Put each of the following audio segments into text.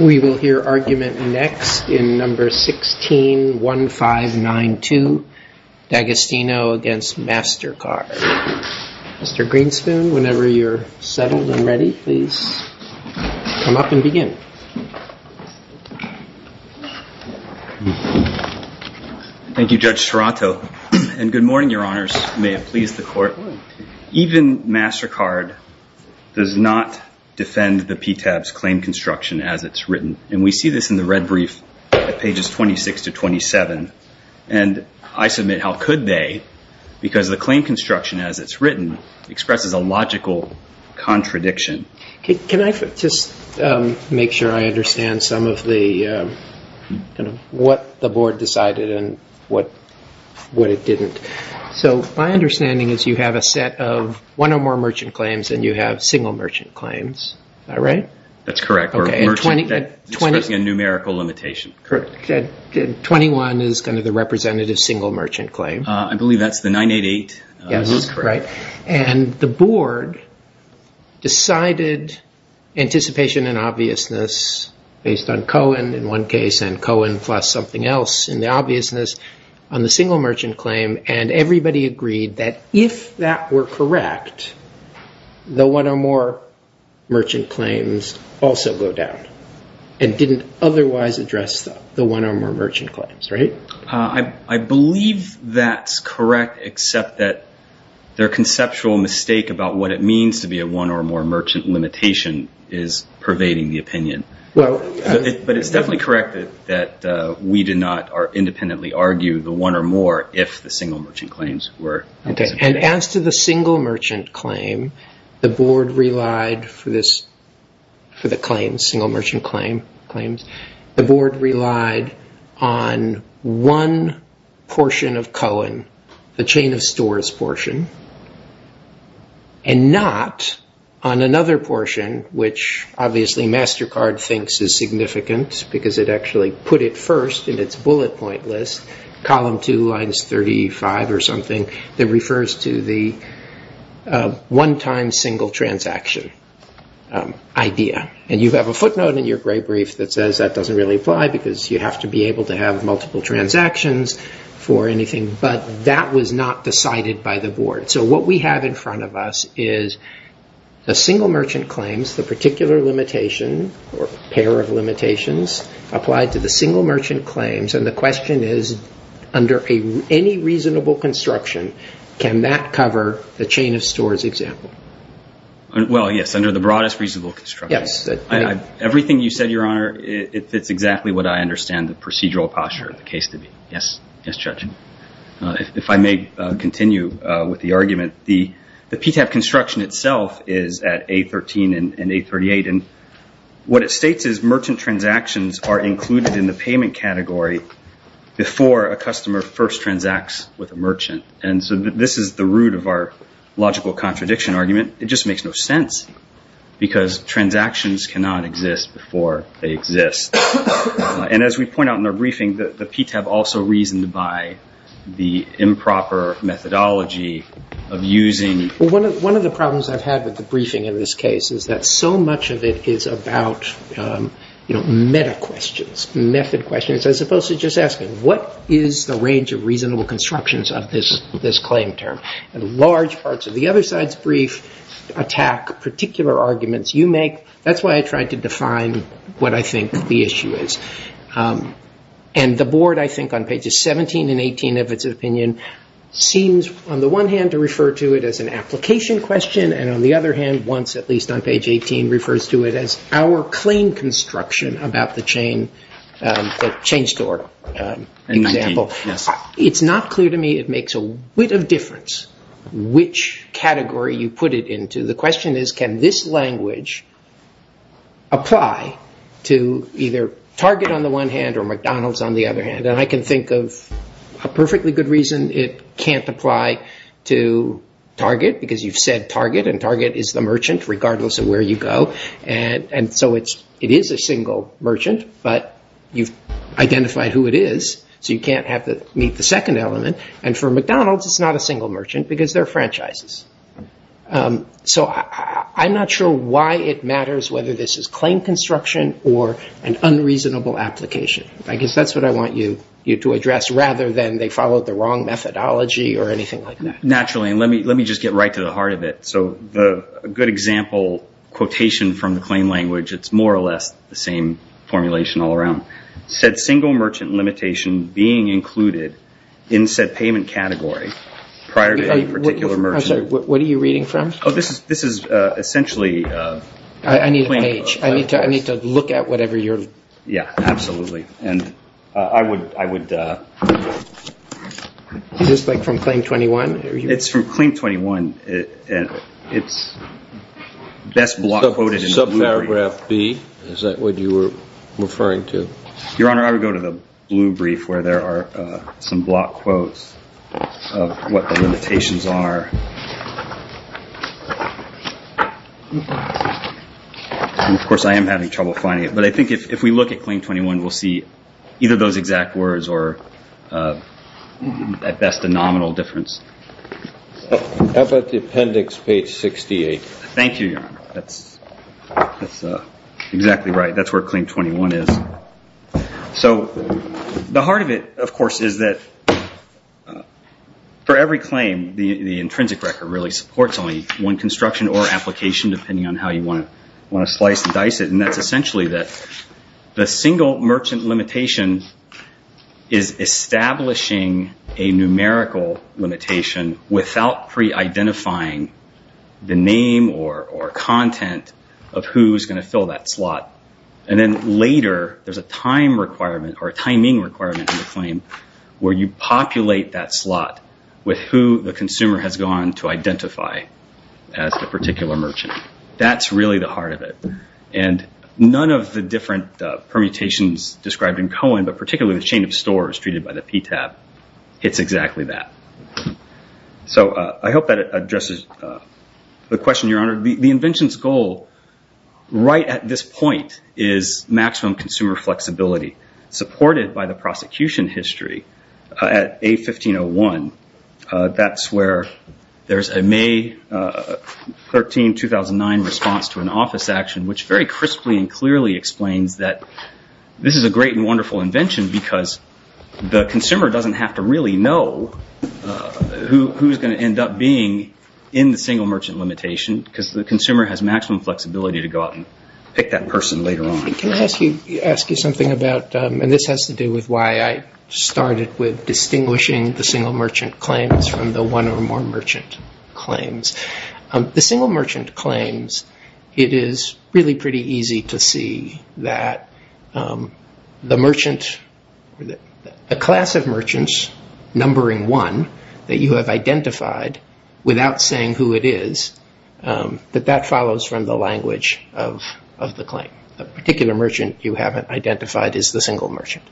We will hear argument next in number 161592. D'Agostino v. Mastercard. Mr. Greenspoon, whenever you're settled and ready, please come up and begin. Thank you, Judge Serrato. And good morning, Your Honors. May it please the Court. Even Mastercard does not defend the PTAB's claim construction as it's written. And we see this in the red brief at pages 26 to 27. And I submit, how could they? Because the claim construction as it's written expresses a logical contradiction. Can I just make sure I understand some of what the Board decided and what it didn't? So my understanding is you have a set of one or more merchant claims and you have single merchant claims. Is that right? That's correct. We're expressing a numerical limitation. 21 is kind of the representative single merchant claim. I believe that's the 988. Yes, that's correct. And the Board decided anticipation and obviousness based on Cohen, in one case, and Cohen plus something else in the obviousness on the single merchant claim. And everybody agreed that if that were correct, the one or more merchant claims also go down and didn't otherwise address the one or more merchant claims, right? I believe that's correct, except that their conceptual mistake about what it means to be a one or more merchant limitation is pervading the opinion. But it's definitely correct that we did not independently argue the one or more if the single merchant claims were. And as to the single merchant claim, the Board relied for the claims, single merchant claims, the Board relied on one portion of Cohen, the chain of stores portion, and not on another portion, which obviously MasterCard thinks is significant because it actually put it first in its bullet point list, column 2, lines 35 or something, that refers to the one-time single transaction idea. And you have a footnote in your gray brief that says that doesn't really apply because you have to be able to have multiple transactions for anything, but that was not decided by the Board. So what we have in front of us is the single merchant claims, the particular limitation or pair of limitations applied to the single merchant claims, and the question is under any reasonable construction, can that cover the chain of stores example? Well, yes, under the broadest reasonable construction. Yes. Everything you said, Your Honor, it's exactly what I understand the procedural posture of the case to be. Yes, Judge. If I may continue with the argument, the PTAB construction itself is at A13 and A38, and what it states is merchant transactions are included in the payment category before a customer first transacts with a merchant. And so this is the root of our logical contradiction argument. It just makes no sense because transactions cannot exist before they exist. And as we point out in the briefing, the PTAB also reasoned by the improper methodology of using. Well, one of the problems I've had with the briefing in this case is that so much of it is about, you know, meta questions, method questions, as opposed to just asking, what is the range of reasonable constructions of this claim term? And large parts of the other side's brief attack particular arguments you make. That's why I tried to define what I think the issue is. And the board, I think, on pages 17 and 18 of its opinion, seems on the one hand to refer to it as an application question, and on the other hand, once at least on page 18, refers to it as our claim construction about the chain store example. It's not clear to me it makes a whit of difference which category you put it into. The question is, can this language apply to either Target on the one hand, or McDonald's on the other hand? And I can think of a perfectly good reason it can't apply to Target, because you've said Target, and Target is the merchant regardless of where you go. And so it is a single merchant, but you've identified who it is, so you can't meet the second element. And for McDonald's, it's not a single merchant because they're franchises. So I'm not sure why it matters whether this is claim construction or an unreasonable application. I guess that's what I want you to address, rather than they followed the wrong methodology or anything like that. Naturally, and let me just get right to the heart of it. So a good example quotation from the claim language, it's more or less the same formulation all around. Said single merchant limitation being included in said payment category, prior to any particular merchant. I'm sorry, what are you reading from? Oh, this is essentially a claim. I need a page. I need to look at whatever you're looking at. Yeah, absolutely. And I would. Is this like from Claim 21? It's from Claim 21. It's best block quoted in the blue brief. Subparagraph B, is that what you were referring to? Your Honor, I would go to the blue brief, where there are some block quotes of what the limitations are. Of course, I am having trouble finding it. But I think if we look at Claim 21, we'll see either those exact words or, at best, a nominal difference. How about the appendix, page 68? Thank you, Your Honor. That's exactly right. That's where Claim 21 is. So the heart of it, of course, is that for every claim, the intrinsic record really supports only one construction or application, depending on how you want to slice and dice it. And that's essentially that the single merchant limitation is establishing a numerical limitation without pre-identifying the name or content of who's going to And then later, there's a timing requirement in the claim, where you populate that slot with who the consumer has gone to identify as the particular merchant. That's really the heart of it. And none of the different permutations described in Cohen, but particularly the chain of stores treated by the PTAB, So I hope that addresses the question, Your Honor. The invention's goal, right at this point, is maximum consumer flexibility, supported by the prosecution history at A1501. That's where there's a May 13, 2009 response to an office action, which very crisply and clearly explains that this is a great and wonderful invention because the consumer doesn't have to really know who's going to end up being in the single merchant limitation because the consumer has maximum flexibility to go out and pick that person later on. Can I ask you something about, and this has to do with why I started with distinguishing the single merchant claims from the one or more merchant claims. The single merchant claims, it is really pretty easy to see that the merchant, a class of merchants, numbering one, that you have identified without saying who it is, that that follows from the language of the claim. A particular merchant you haven't identified as the single merchant.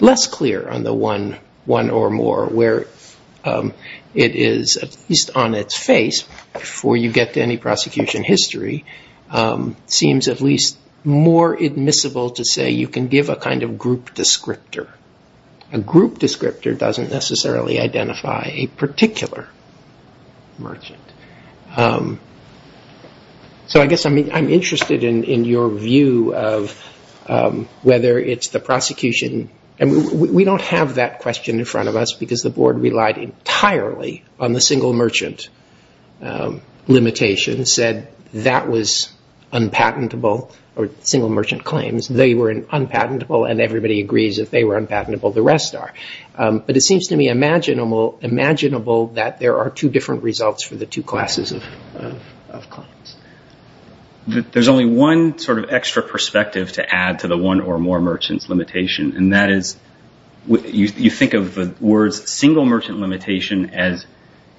Less clear on the one or more where it is, at least on its face, before you get to any prosecution history, seems at least more admissible to say you can give a kind of group descriptor. A group descriptor doesn't necessarily identify a particular merchant. So I guess I'm interested in your view of whether it's the prosecution, and we don't have that question in front of us because the board relied entirely on the single merchant limitation, said that was unpatentable, or single merchant claims. They were unpatentable, and everybody agrees if they were unpatentable, the rest are. But it seems to me imaginable that there are two different results for the two classes of claims. There's only one sort of extra perspective to add to the one or more merchant's limitation, and that is you think of the words single merchant limitation as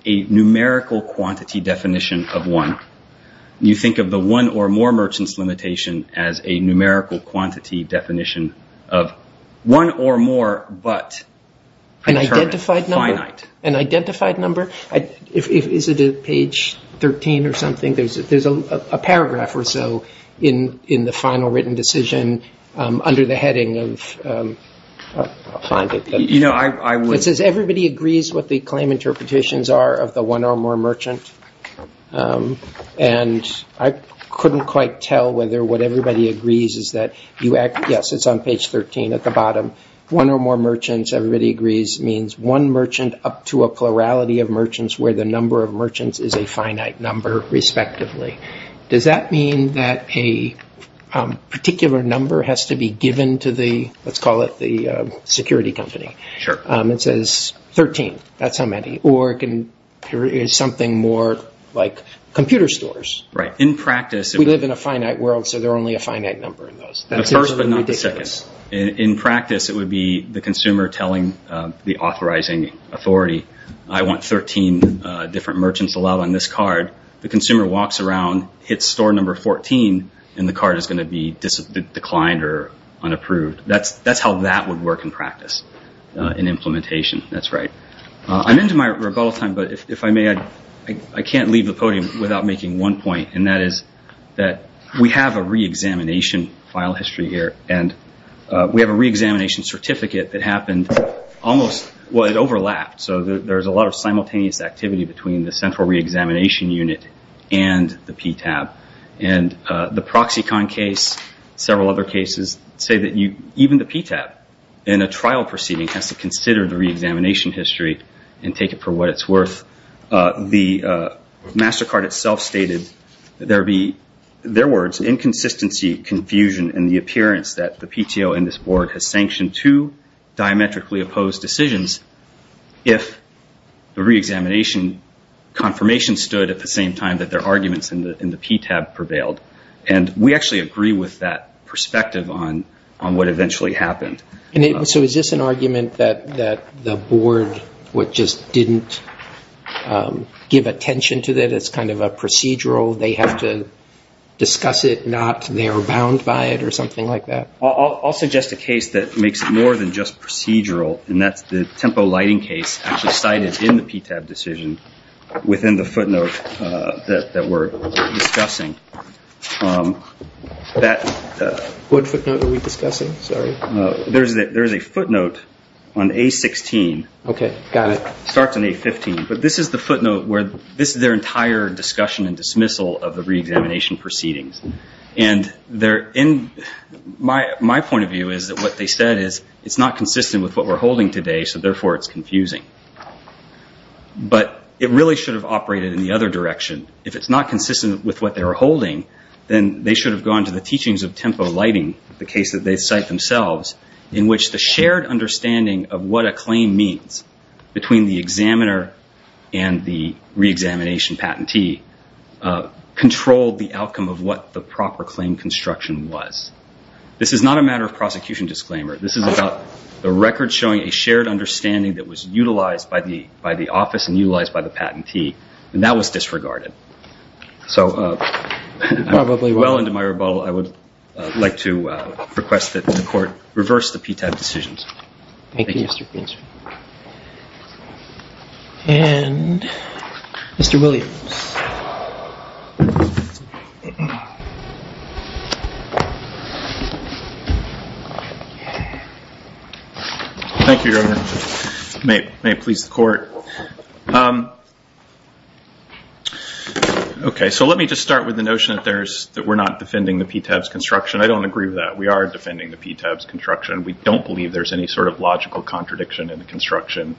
a numerical quantity definition of one. You think of the one or more merchant's limitation as a numerical quantity definition of one or more but. An identified number? An identified number? Is it at page 13 or something? There's a paragraph or so in the final written decision under the heading of I'll find it. You know, I would. It says everybody agrees what the claim interpretations are of the one or more merchant, and I couldn't quite tell whether what everybody agrees is that, yes, it's on page 13 at the bottom. One or more merchants, everybody agrees, means one merchant up to a plurality of merchants where the number of merchants is a finite number, respectively. Does that mean that a particular number has to be given to the, let's call it the security company? Sure. It says 13. That's how many. Or it can be something more like computer stores. Right. In practice. We live in a finite world, so there are only a finite number in those. The first but not the second. In practice, it would be the consumer telling the authorizing authority, I want 13 different merchants allowed on this card. The consumer walks around, hits store number 14, and the card is going to be declined or unapproved. That's how that would work in practice, in implementation. That's right. I'm into my rebuttal time, but if I may, I can't leave the podium without making one point, and that is that we have a reexamination file history here, and we have a reexamination certificate that happened almost, well, it overlapped. So there's a lot of simultaneous activity between the central reexamination unit and the PTAB. The Proxicon case, several other cases, say that even the PTAB, in a trial proceeding, has to consider the reexamination history and take it for what it's worth. The MasterCard itself stated there would be, in their words, inconsistency, confusion, and the appearance that the PTO and this board has sanctioned two diametrically opposed decisions if the reexamination confirmation stood at the same time that their arguments in the PTAB prevailed. And we actually agree with that perspective on what eventually happened. So is this an argument that the board just didn't give attention to that it's kind of a procedural, they have to discuss it, not they are bound by it or something like that? I'll suggest a case that makes it more than just procedural, and that's the Tempo Lighting case actually cited in the PTAB decision within the footnote that we're discussing. What footnote are we discussing? Sorry. There's a footnote on A-16. Okay. Got it. It starts on A-15, but this is the footnote where this is their entire discussion and dismissal of the reexamination proceedings. And my point of view is that what they said is it's not consistent with what we're holding today, so therefore it's confusing. But it really should have operated in the other direction. If it's not consistent with what they were holding, then they should have gone to the teachings of Tempo Lighting, the case that they cite themselves, in which the shared understanding of what a claim means between the examiner and the reexamination patentee controlled the outcome of what the proper claim construction was. This is not a matter of prosecution disclaimer. This is about the record showing a shared understanding that was utilized by the office and utilized by the patentee, and that was disregarded. So I'm well into my rebuttal. I would like to request that the Court reverse the PTAB decisions. Thank you. And Mr. Williams. Thank you, Your Honor. May it please the Court. Okay, so let me just start with the notion that we're not defending the PTAB's construction. I don't agree with that. We are defending the PTAB's construction. We don't believe there's any sort of logical contradiction in the construction.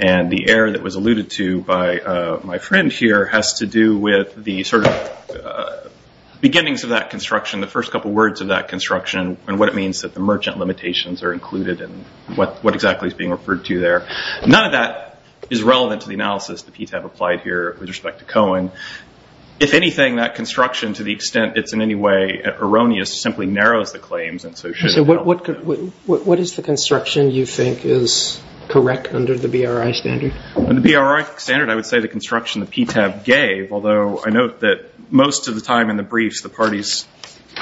And the error that was alluded to by my friend here has to do with the sort of beginnings of that construction, the first couple words of that construction, and what it means that the merchant limitations are included, and what exactly is being referred to there. None of that is relevant to the analysis the PTAB applied here with respect to Cohen. If anything, that construction, to the extent it's in any way erroneous, So what is the construction you think is correct under the BRI standard? In the BRI standard, I would say the construction the PTAB gave, although I note that most of the time in the briefs the parties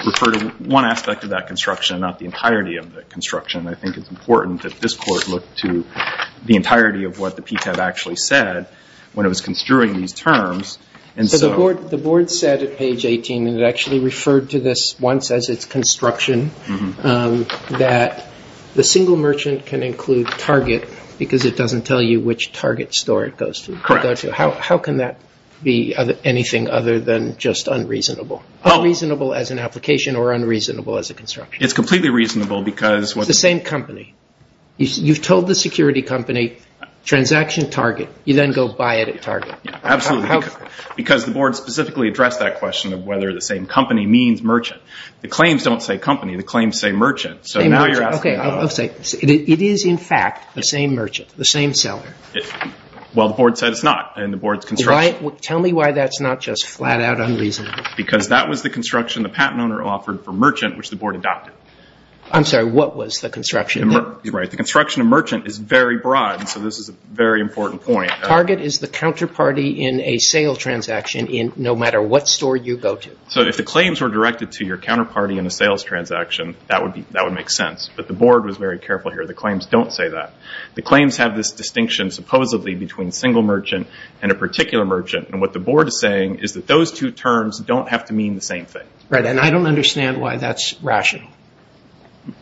refer to one aspect of that construction, not the entirety of the construction. I think it's important that this Court look to the entirety of what the PTAB actually said when it was construing these terms. The Board said at page 18, and it actually referred to this once as its construction, that the single merchant can include target because it doesn't tell you which target store it goes to. Correct. How can that be anything other than just unreasonable? Unreasonable as an application or unreasonable as a construction? It's completely reasonable because... It's the same company. You've told the security company, transaction target. You then go buy it at target. Absolutely. Because the Board specifically addressed that question of whether the same company means merchant. The claims don't say company. The claims say merchant. So now you're asking... It is, in fact, the same merchant, the same seller. Well, the Board said it's not in the Board's construction. Tell me why that's not just flat out unreasonable. Because that was the construction the patent owner offered for merchant, which the Board adopted. I'm sorry. What was the construction? The construction of merchant is very broad, so this is a very important point. Target is the counterparty in a sale transaction no matter what store you go to. So if the claims were directed to your counterparty in a sales transaction, that would make sense. But the Board was very careful here. The claims don't say that. The claims have this distinction supposedly between single merchant and a particular merchant. And what the Board is saying is that those two terms don't have to mean the same thing. Right. And I don't understand why that's rational.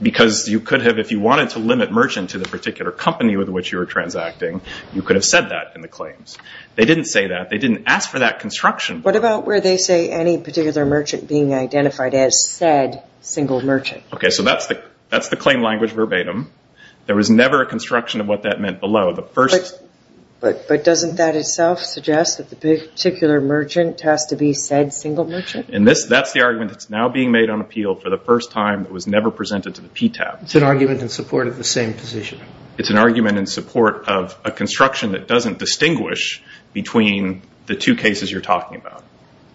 Because you could have, if you wanted to limit merchant to the particular company with which you were transacting, you could have said that in the claims. They didn't say that. They didn't ask for that construction. What about where they say any particular merchant being identified as said single merchant? Okay. So that's the claim language verbatim. There was never a construction of what that meant below. But doesn't that itself suggest that the particular merchant has to be said single merchant? And that's the argument that's now being made on appeal for the first time that was never presented to the PTAB. It's an argument in support of the same position. It's an argument in support of a construction that doesn't distinguish between the two cases you're talking about.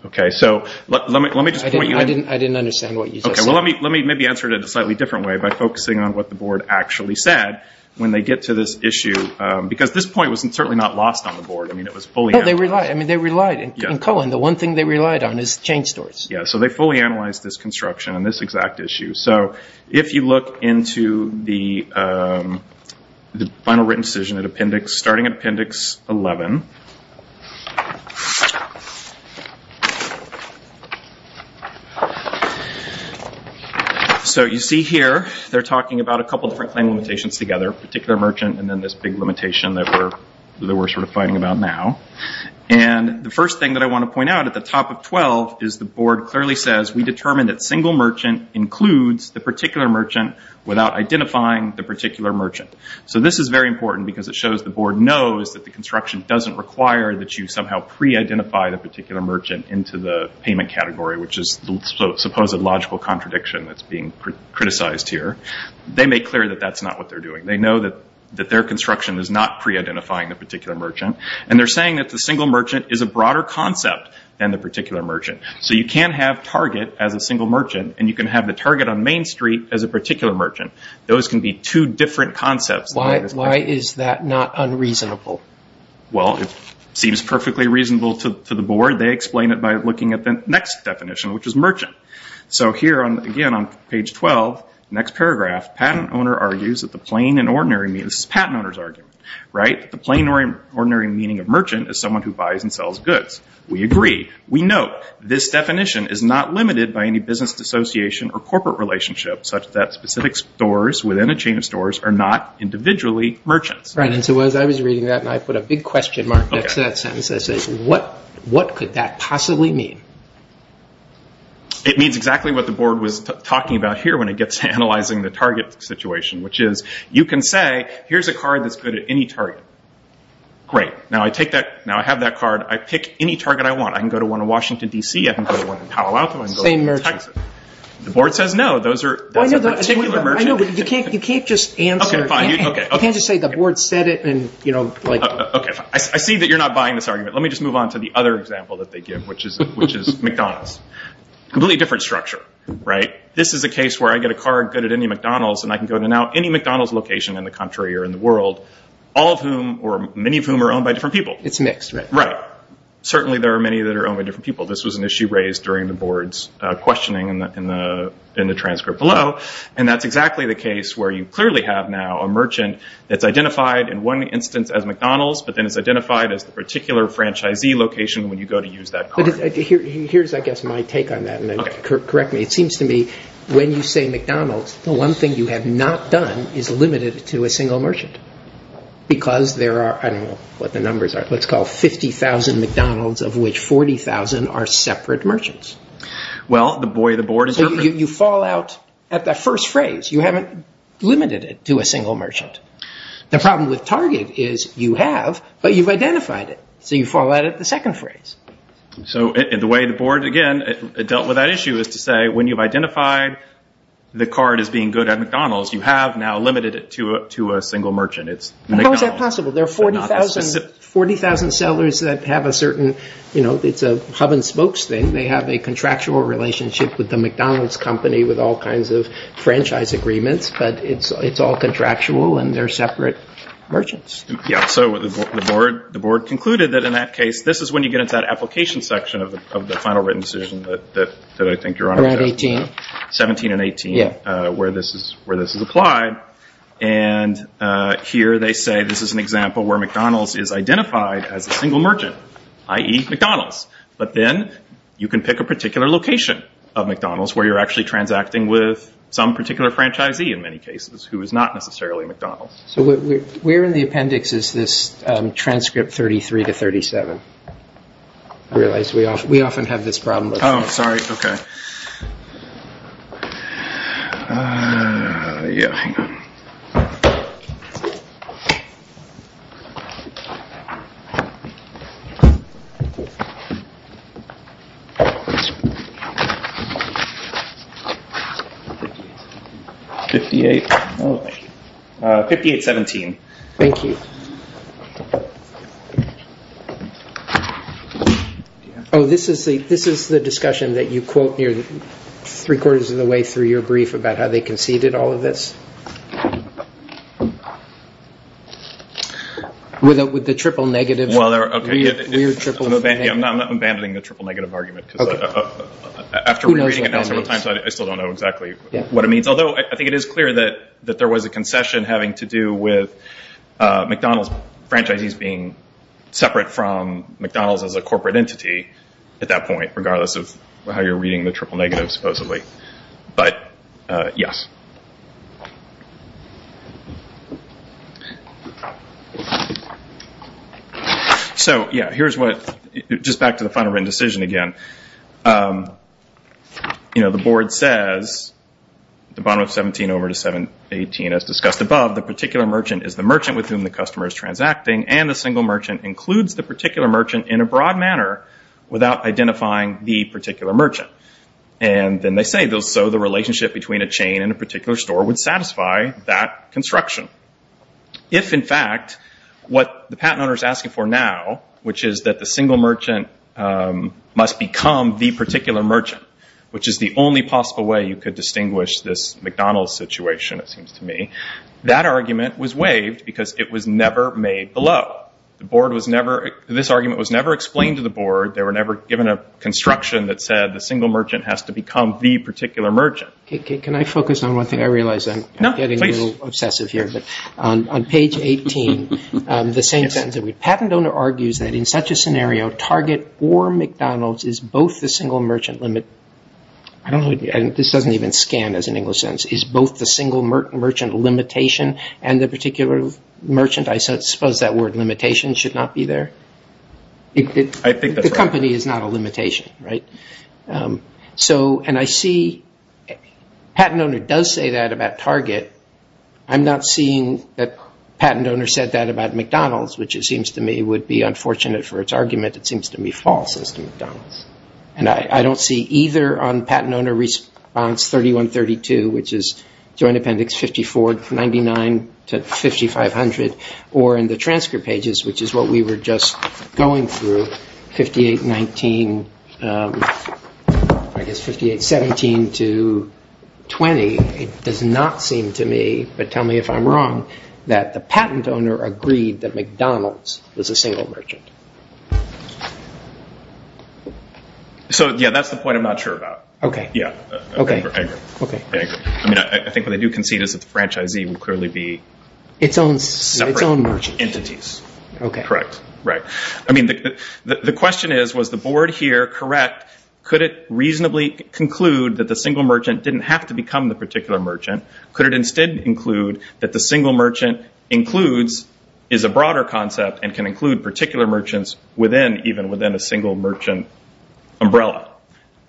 Okay. So let me just point you in. I didn't understand what you just said. Okay. Well, let me maybe answer it in a slightly different way by focusing on what the Board actually said when they get to this issue. Because this point was certainly not lost on the Board. I mean, it was fully analyzed. No, they relied. I mean, they relied. In Cohen, the one thing they relied on is chain stores. Yeah. So they fully analyzed this construction on this exact issue. So if you look into the final written decision starting at Appendix 11. So you see here they're talking about a couple different claim limitations together, particular merchant and then this big limitation that we're sort of fighting about now. And the first thing that I want to point out at the top of 12 is the Board clearly says, we determined that single merchant includes the particular merchant without identifying the particular merchant. So this is very important because it shows the Board knows that the construction doesn't require that you somehow pre-identify the particular merchant into the payment category, which is the supposed logical contradiction that's being criticized here. They make clear that that's not what they're doing. They know that their construction is not pre-identifying the particular merchant. And they're saying that the single merchant is a broader concept than the particular merchant. So you can't have target as a single merchant, and you can have the target on Main Street as a particular merchant. Those can be two different concepts. Why is that not unreasonable? Well, it seems perfectly reasonable to the Board. They explain it by looking at the next definition, which is merchant. So here, again, on page 12, next paragraph, this is a patent owner's argument, right? The plain and ordinary meaning of merchant is someone who buys and sells goods. We agree. We note this definition is not limited by any business association or corporate relationship, such that specific stores within a chain of stores are not individually merchants. Right, and so as I was reading that, and I put a big question mark next to that sentence, I say, what could that possibly mean? It means exactly what the Board was talking about here when it gets to analyzing the target situation, which is you can say, here's a card that's good at any target. Great. Now I have that card. I pick any target I want. I can go to one in Washington, D.C. I can go to one in Palo Alto. I can go to one in Texas. Same merchant. The Board says no. That's a particular merchant. I know, but you can't just answer. Okay, fine. You can't just say the Board said it and, you know, like. Okay, fine. I see that you're not buying this argument. Let me just move on to the other example that they give, which is McDonald's. Completely different structure, right? This is a case where I get a card good at any McDonald's, and I can go to now any McDonald's location in the country or in the world, all of whom or many of whom are owned by different people. It's mixed, right? Right. Certainly there are many that are owned by different people. This was an issue raised during the Board's questioning in the transcript below, and that's exactly the case where you clearly have now a merchant that's identified in one instance as McDonald's, but then is identified as the particular franchisee location when you go to use that card. Here's, I guess, my take on that, and then correct me. It seems to me when you say McDonald's, the one thing you have not done is limit it to a single merchant because there are, I don't know what the numbers are, let's call it 50,000 McDonald's, of which 40,000 are separate merchants. Well, the boy of the Board is different. So you fall out at that first phrase. You haven't limited it to a single merchant. The problem with Target is you have, but you've identified it. So you fall out at the second phrase. So the way the Board, again, dealt with that issue is to say when you've identified the card as being good at McDonald's, you have now limited it to a single merchant. How is that possible? There are 40,000 sellers that have a certain, you know, it's a hub and spokes thing. They have a contractual relationship with the McDonald's company with all kinds of franchise agreements, but it's all contractual and they're separate merchants. Yeah, so the Board concluded that in that case, this is when you get into that application section of the final written decision that I think you're on. Around 18. 17 and 18 where this is applied. And here they say this is an example where McDonald's is identified as a single merchant, i.e., McDonald's. But then you can pick a particular location of McDonald's where you're actually transacting with some particular franchisee in many cases who is not necessarily McDonald's. So where in the appendix is this transcript 33 to 37? I realize we often have this problem. Oh, sorry. Okay. Yeah. 58. 58, 17. Thank you. Oh, this is the discussion that you quote three-quarters of the way through your brief about how they conceded all of this? With the triple negative. Well, I'm not abandoning the triple negative argument. Okay. After reading it several times, I still don't know exactly what it means. Although I think it is clear that there was a concession having to do with McDonald's franchisees being separate from McDonald's as a corporate entity at that point, regardless of how you're reading the triple negative supposedly. But, yes. So, yeah, here's what... Just back to the final written decision again. The board says, the bottom of 17 over to 718 as discussed above, the particular merchant is the merchant with whom the customer is transacting and the single merchant includes the particular merchant in a broad manner without identifying the particular merchant. And then they say, so the relationship between a chain and a particular store would satisfy that construction. If, in fact, what the patent owner is asking for now, which is that the single merchant must become the particular merchant, which is the only possible way you could distinguish this McDonald's situation, it seems to me, that argument was waived because it was never made below. This argument was never explained to the board. They were never given a construction that said the single merchant has to become the particular merchant. Can I focus on one thing? I realize I'm getting a little obsessive here. But on page 18, the same sentence. Patent owner argues that in such a scenario, Target or McDonald's is both the single merchant limit. This doesn't even scan as an English sentence. Is both the single merchant limitation and the particular merchant, I suppose that word limitation should not be there? I think that's right. The company is not a limitation, right? So, and I see patent owner does say that about Target. I'm not seeing that patent owner said that about McDonald's, which it seems to me would be unfortunate for its argument. It seems to me false as to McDonald's. And I don't see either on patent owner response 3132, which is Joint Appendix 54, 99 to 5500, or in the transcript pages, which is what we were just going through, 58, 19, I guess 58, 17 to 20. It does not seem to me, but tell me if I'm wrong, that the patent owner agreed that McDonald's was a single merchant. So, yeah, that's the point I'm not sure about. Okay. Yeah. Okay. I think what I do concede is that the franchisee would clearly be separate entities. Its own merchant. Okay. Correct. Right. I mean, the question is, was the board here correct? Could it reasonably conclude that the single merchant didn't have to become the particular merchant? Could it instead include that the single merchant includes, is a broader concept, and can include particular merchants within, even within a single merchant umbrella?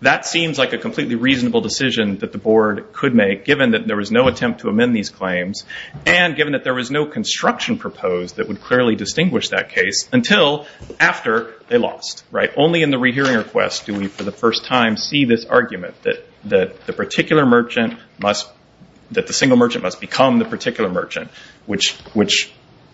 That seems like a completely reasonable decision that the board could make, given that there was no attempt to amend these claims, and given that there was no construction proposed that would clearly distinguish that case until after they lost. Right? Only in the rehearing request do we, for the first time, see this argument, that the particular merchant must, that the single merchant must become the particular merchant, which,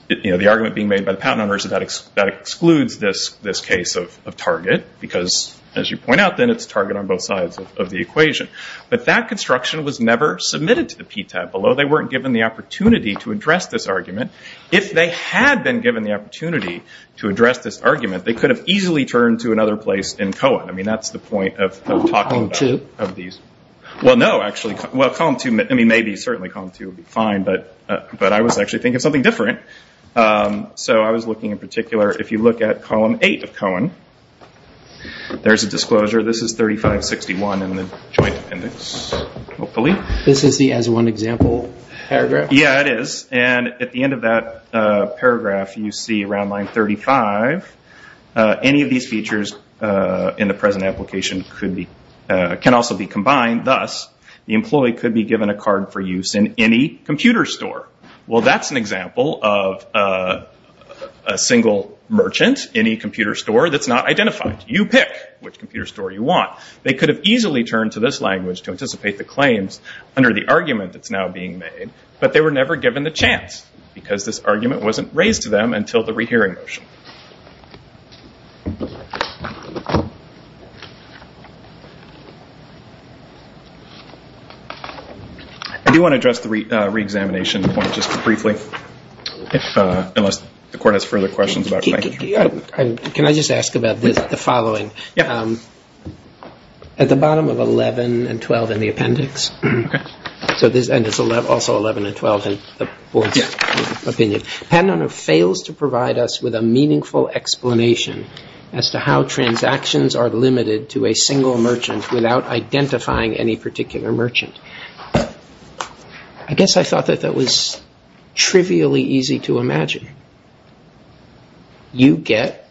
you know, the argument being made by the patent owner is that that excludes this case of target, because, as you point out, then it's target on both sides of the equation. But that construction was never submitted to the PTAB. Although they weren't given the opportunity to address this argument, if they had been given the opportunity to address this argument, they could have easily turned to another place in Cohen. I mean, that's the point of talking about. Column two. Well, no, actually. Well, column two, I mean, maybe, certainly column two would be fine, but I was actually thinking of something different. So I was looking in particular, if you look at column eight of Cohen, there's a disclosure. This is 3561 in the joint appendix, hopefully. This is the as one example paragraph? Yeah, it is. And at the end of that paragraph, you see around line 35, any of these features in the present application can also be combined. Thus, the employee could be given a card for use in any computer store. Well, that's an example of a single merchant, any computer store that's not identified. You pick which computer store you want. They could have easily turned to this language to anticipate the claims under the argument that's now being made, but they were never given the chance because this argument wasn't raised to them until the rehearing motion. I do want to address the reexamination point just briefly, unless the court has further questions about it. Can I just ask about the following? Yeah. At the bottom of 11 and 12 in the appendix, and it's also 11 and 12 in the board's opinion, Patent Owner fails to provide us with a meaningful explanation as to how transactions are limited to a single merchant without identifying any particular merchant. I guess I thought that that was trivially easy to imagine. You get,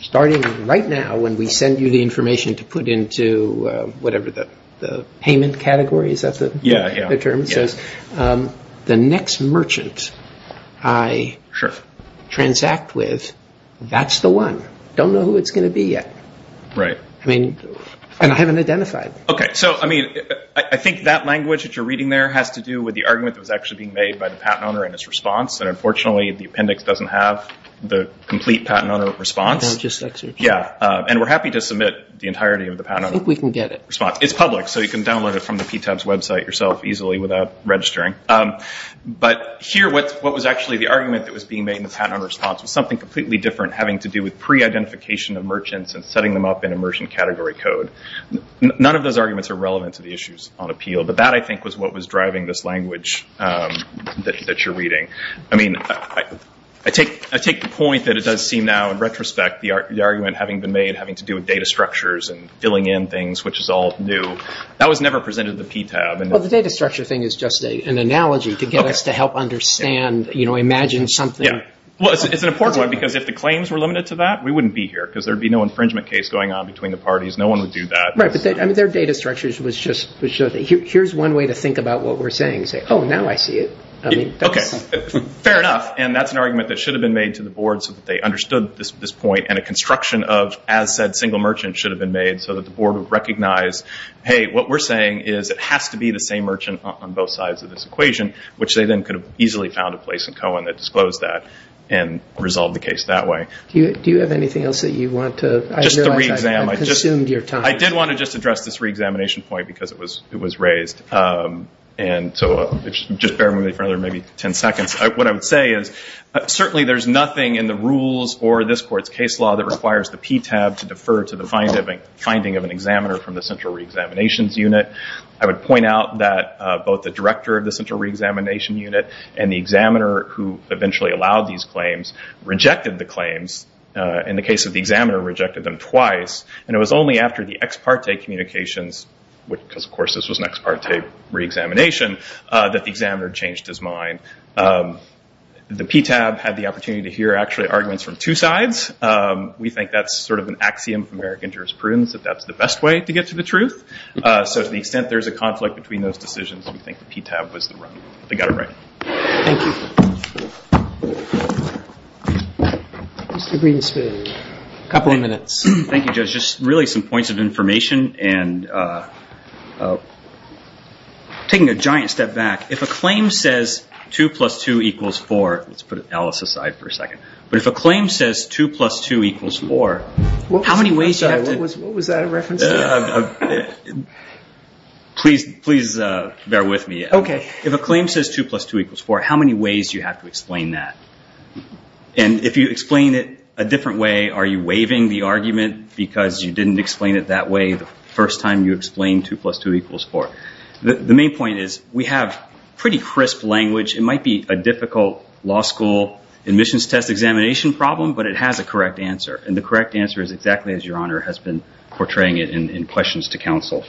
starting right now when we send you the information to put into whatever the payment category is, that's the term it says, the next merchant I transact with, that's the one. Don't know who it's going to be yet. Right. I mean, and I haven't identified. Okay. So, I mean, I think that language that you're reading there has to do with the argument that was actually being made by the Patent Owner and his response. And unfortunately, the appendix doesn't have the complete Patent Owner response. Can I just search? Yeah. And we're happy to submit the entirety of the Patent Owner response. I think we can get it. It's public, so you can download it from the PTAB's website yourself easily without registering. But here, what was actually the argument that was being made in the Patent Owner response was something completely different having to do with pre-identification of merchants and setting them up in immersion category code. None of those arguments are relevant to the issues on appeal. But that, I think, was what was driving this language that you're reading. I mean, I take the point that it does seem now, in retrospect, the argument having been made having to do with data structures and filling in things, which is all new. That was never presented at the PTAB. Well, the data structure thing is just an analogy to get us to help understand, you know, imagine something. Yeah. Well, it's an important one because if the claims were limited to that, we wouldn't be here because there would be no infringement case going on between the parties. No one would do that. Right. I mean, their data structures was just, here's one way to think about what we're saying. Say, oh, now I see it. Okay. Fair enough. And that's an argument that should have been made to the board so that they understood this point and a construction of, as said, single merchant should have been made so that the board would recognize, hey, what we're saying is it has to be the same merchant on both sides of this equation, which they then could have easily found a place in Cohen that disclosed that and resolved the case that way. Do you have anything else that you want to? Just the re-exam. I realize I've consumed your time. I did want to just address this re-examination point because it was raised. And so just bear with me for another maybe 10 seconds. What I would say is certainly there's nothing in the rules or this court's case law that requires the PTAB to defer to the finding of an examiner from the central re-examinations unit. I would point out that both the director of the central re-examination unit and the examiner who eventually allowed these claims rejected the claims. In the case of the examiner, rejected them twice. And it was only after the ex parte communications, because of course this was an ex parte re-examination, that the examiner changed his mind. The PTAB had the opportunity to hear actually arguments from two sides. We think that's sort of an axiom of American jurisprudence, that that's the best way to get to the truth. So to the extent there's a conflict between those decisions, we think the PTAB was the one that got it right. Thank you. Mr. Greenspan, a couple of minutes. Thank you, Judge. Just really some points of information and taking a giant step back. If a claim says 2 plus 2 equals 4, let's put Alice aside for a second. But if a claim says 2 plus 2 equals 4, how many ways do you have to... What was that a reference to? Please bear with me. If a claim says 2 plus 2 equals 4, how many ways do you have to explain that? And if you explain it a different way, are you waiving the argument, because you didn't explain it that way the first time you explained 2 plus 2 equals 4? The main point is we have pretty crisp language. It might be a difficult law school admissions test examination problem, but it has a correct answer. And the correct answer is exactly as Your Honor has been portraying it in questions to counsel.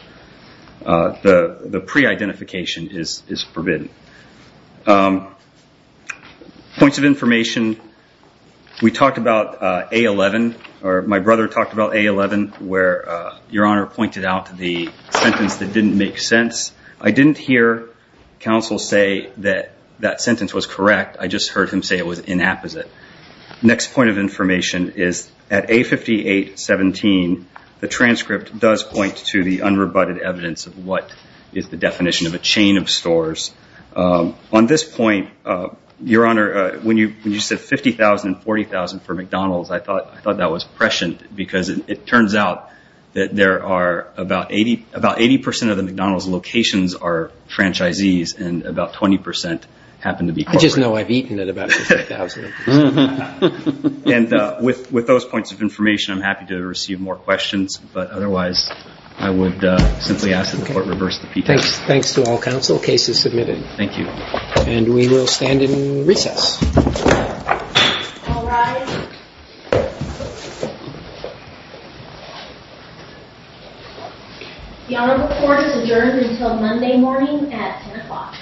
The pre-identification is forbidden. Points of information. We talked about A11, or my brother talked about A11, where Your Honor pointed out the sentence that didn't make sense. I didn't hear counsel say that that sentence was correct. I just heard him say it was inapposite. Next point of information is at A5817, the transcript does point to the unrebutted evidence of what is the definition of a chain of stores. On this point, Your Honor, when you said 50,000 and 40,000 for McDonald's, I thought that was prescient, because it turns out that there are about 80 percent of the McDonald's locations are franchisees, and about 20 percent happen to be corporate. I just know I've eaten at about 50,000. And with those points of information, I'm happy to receive more questions, but otherwise I would simply ask that the Court reverse the petition. Thanks to all counsel. Case is submitted. Thank you. And we will stand in recess. All rise. The Honorable Court is adjourned until Monday morning at 10 o'clock.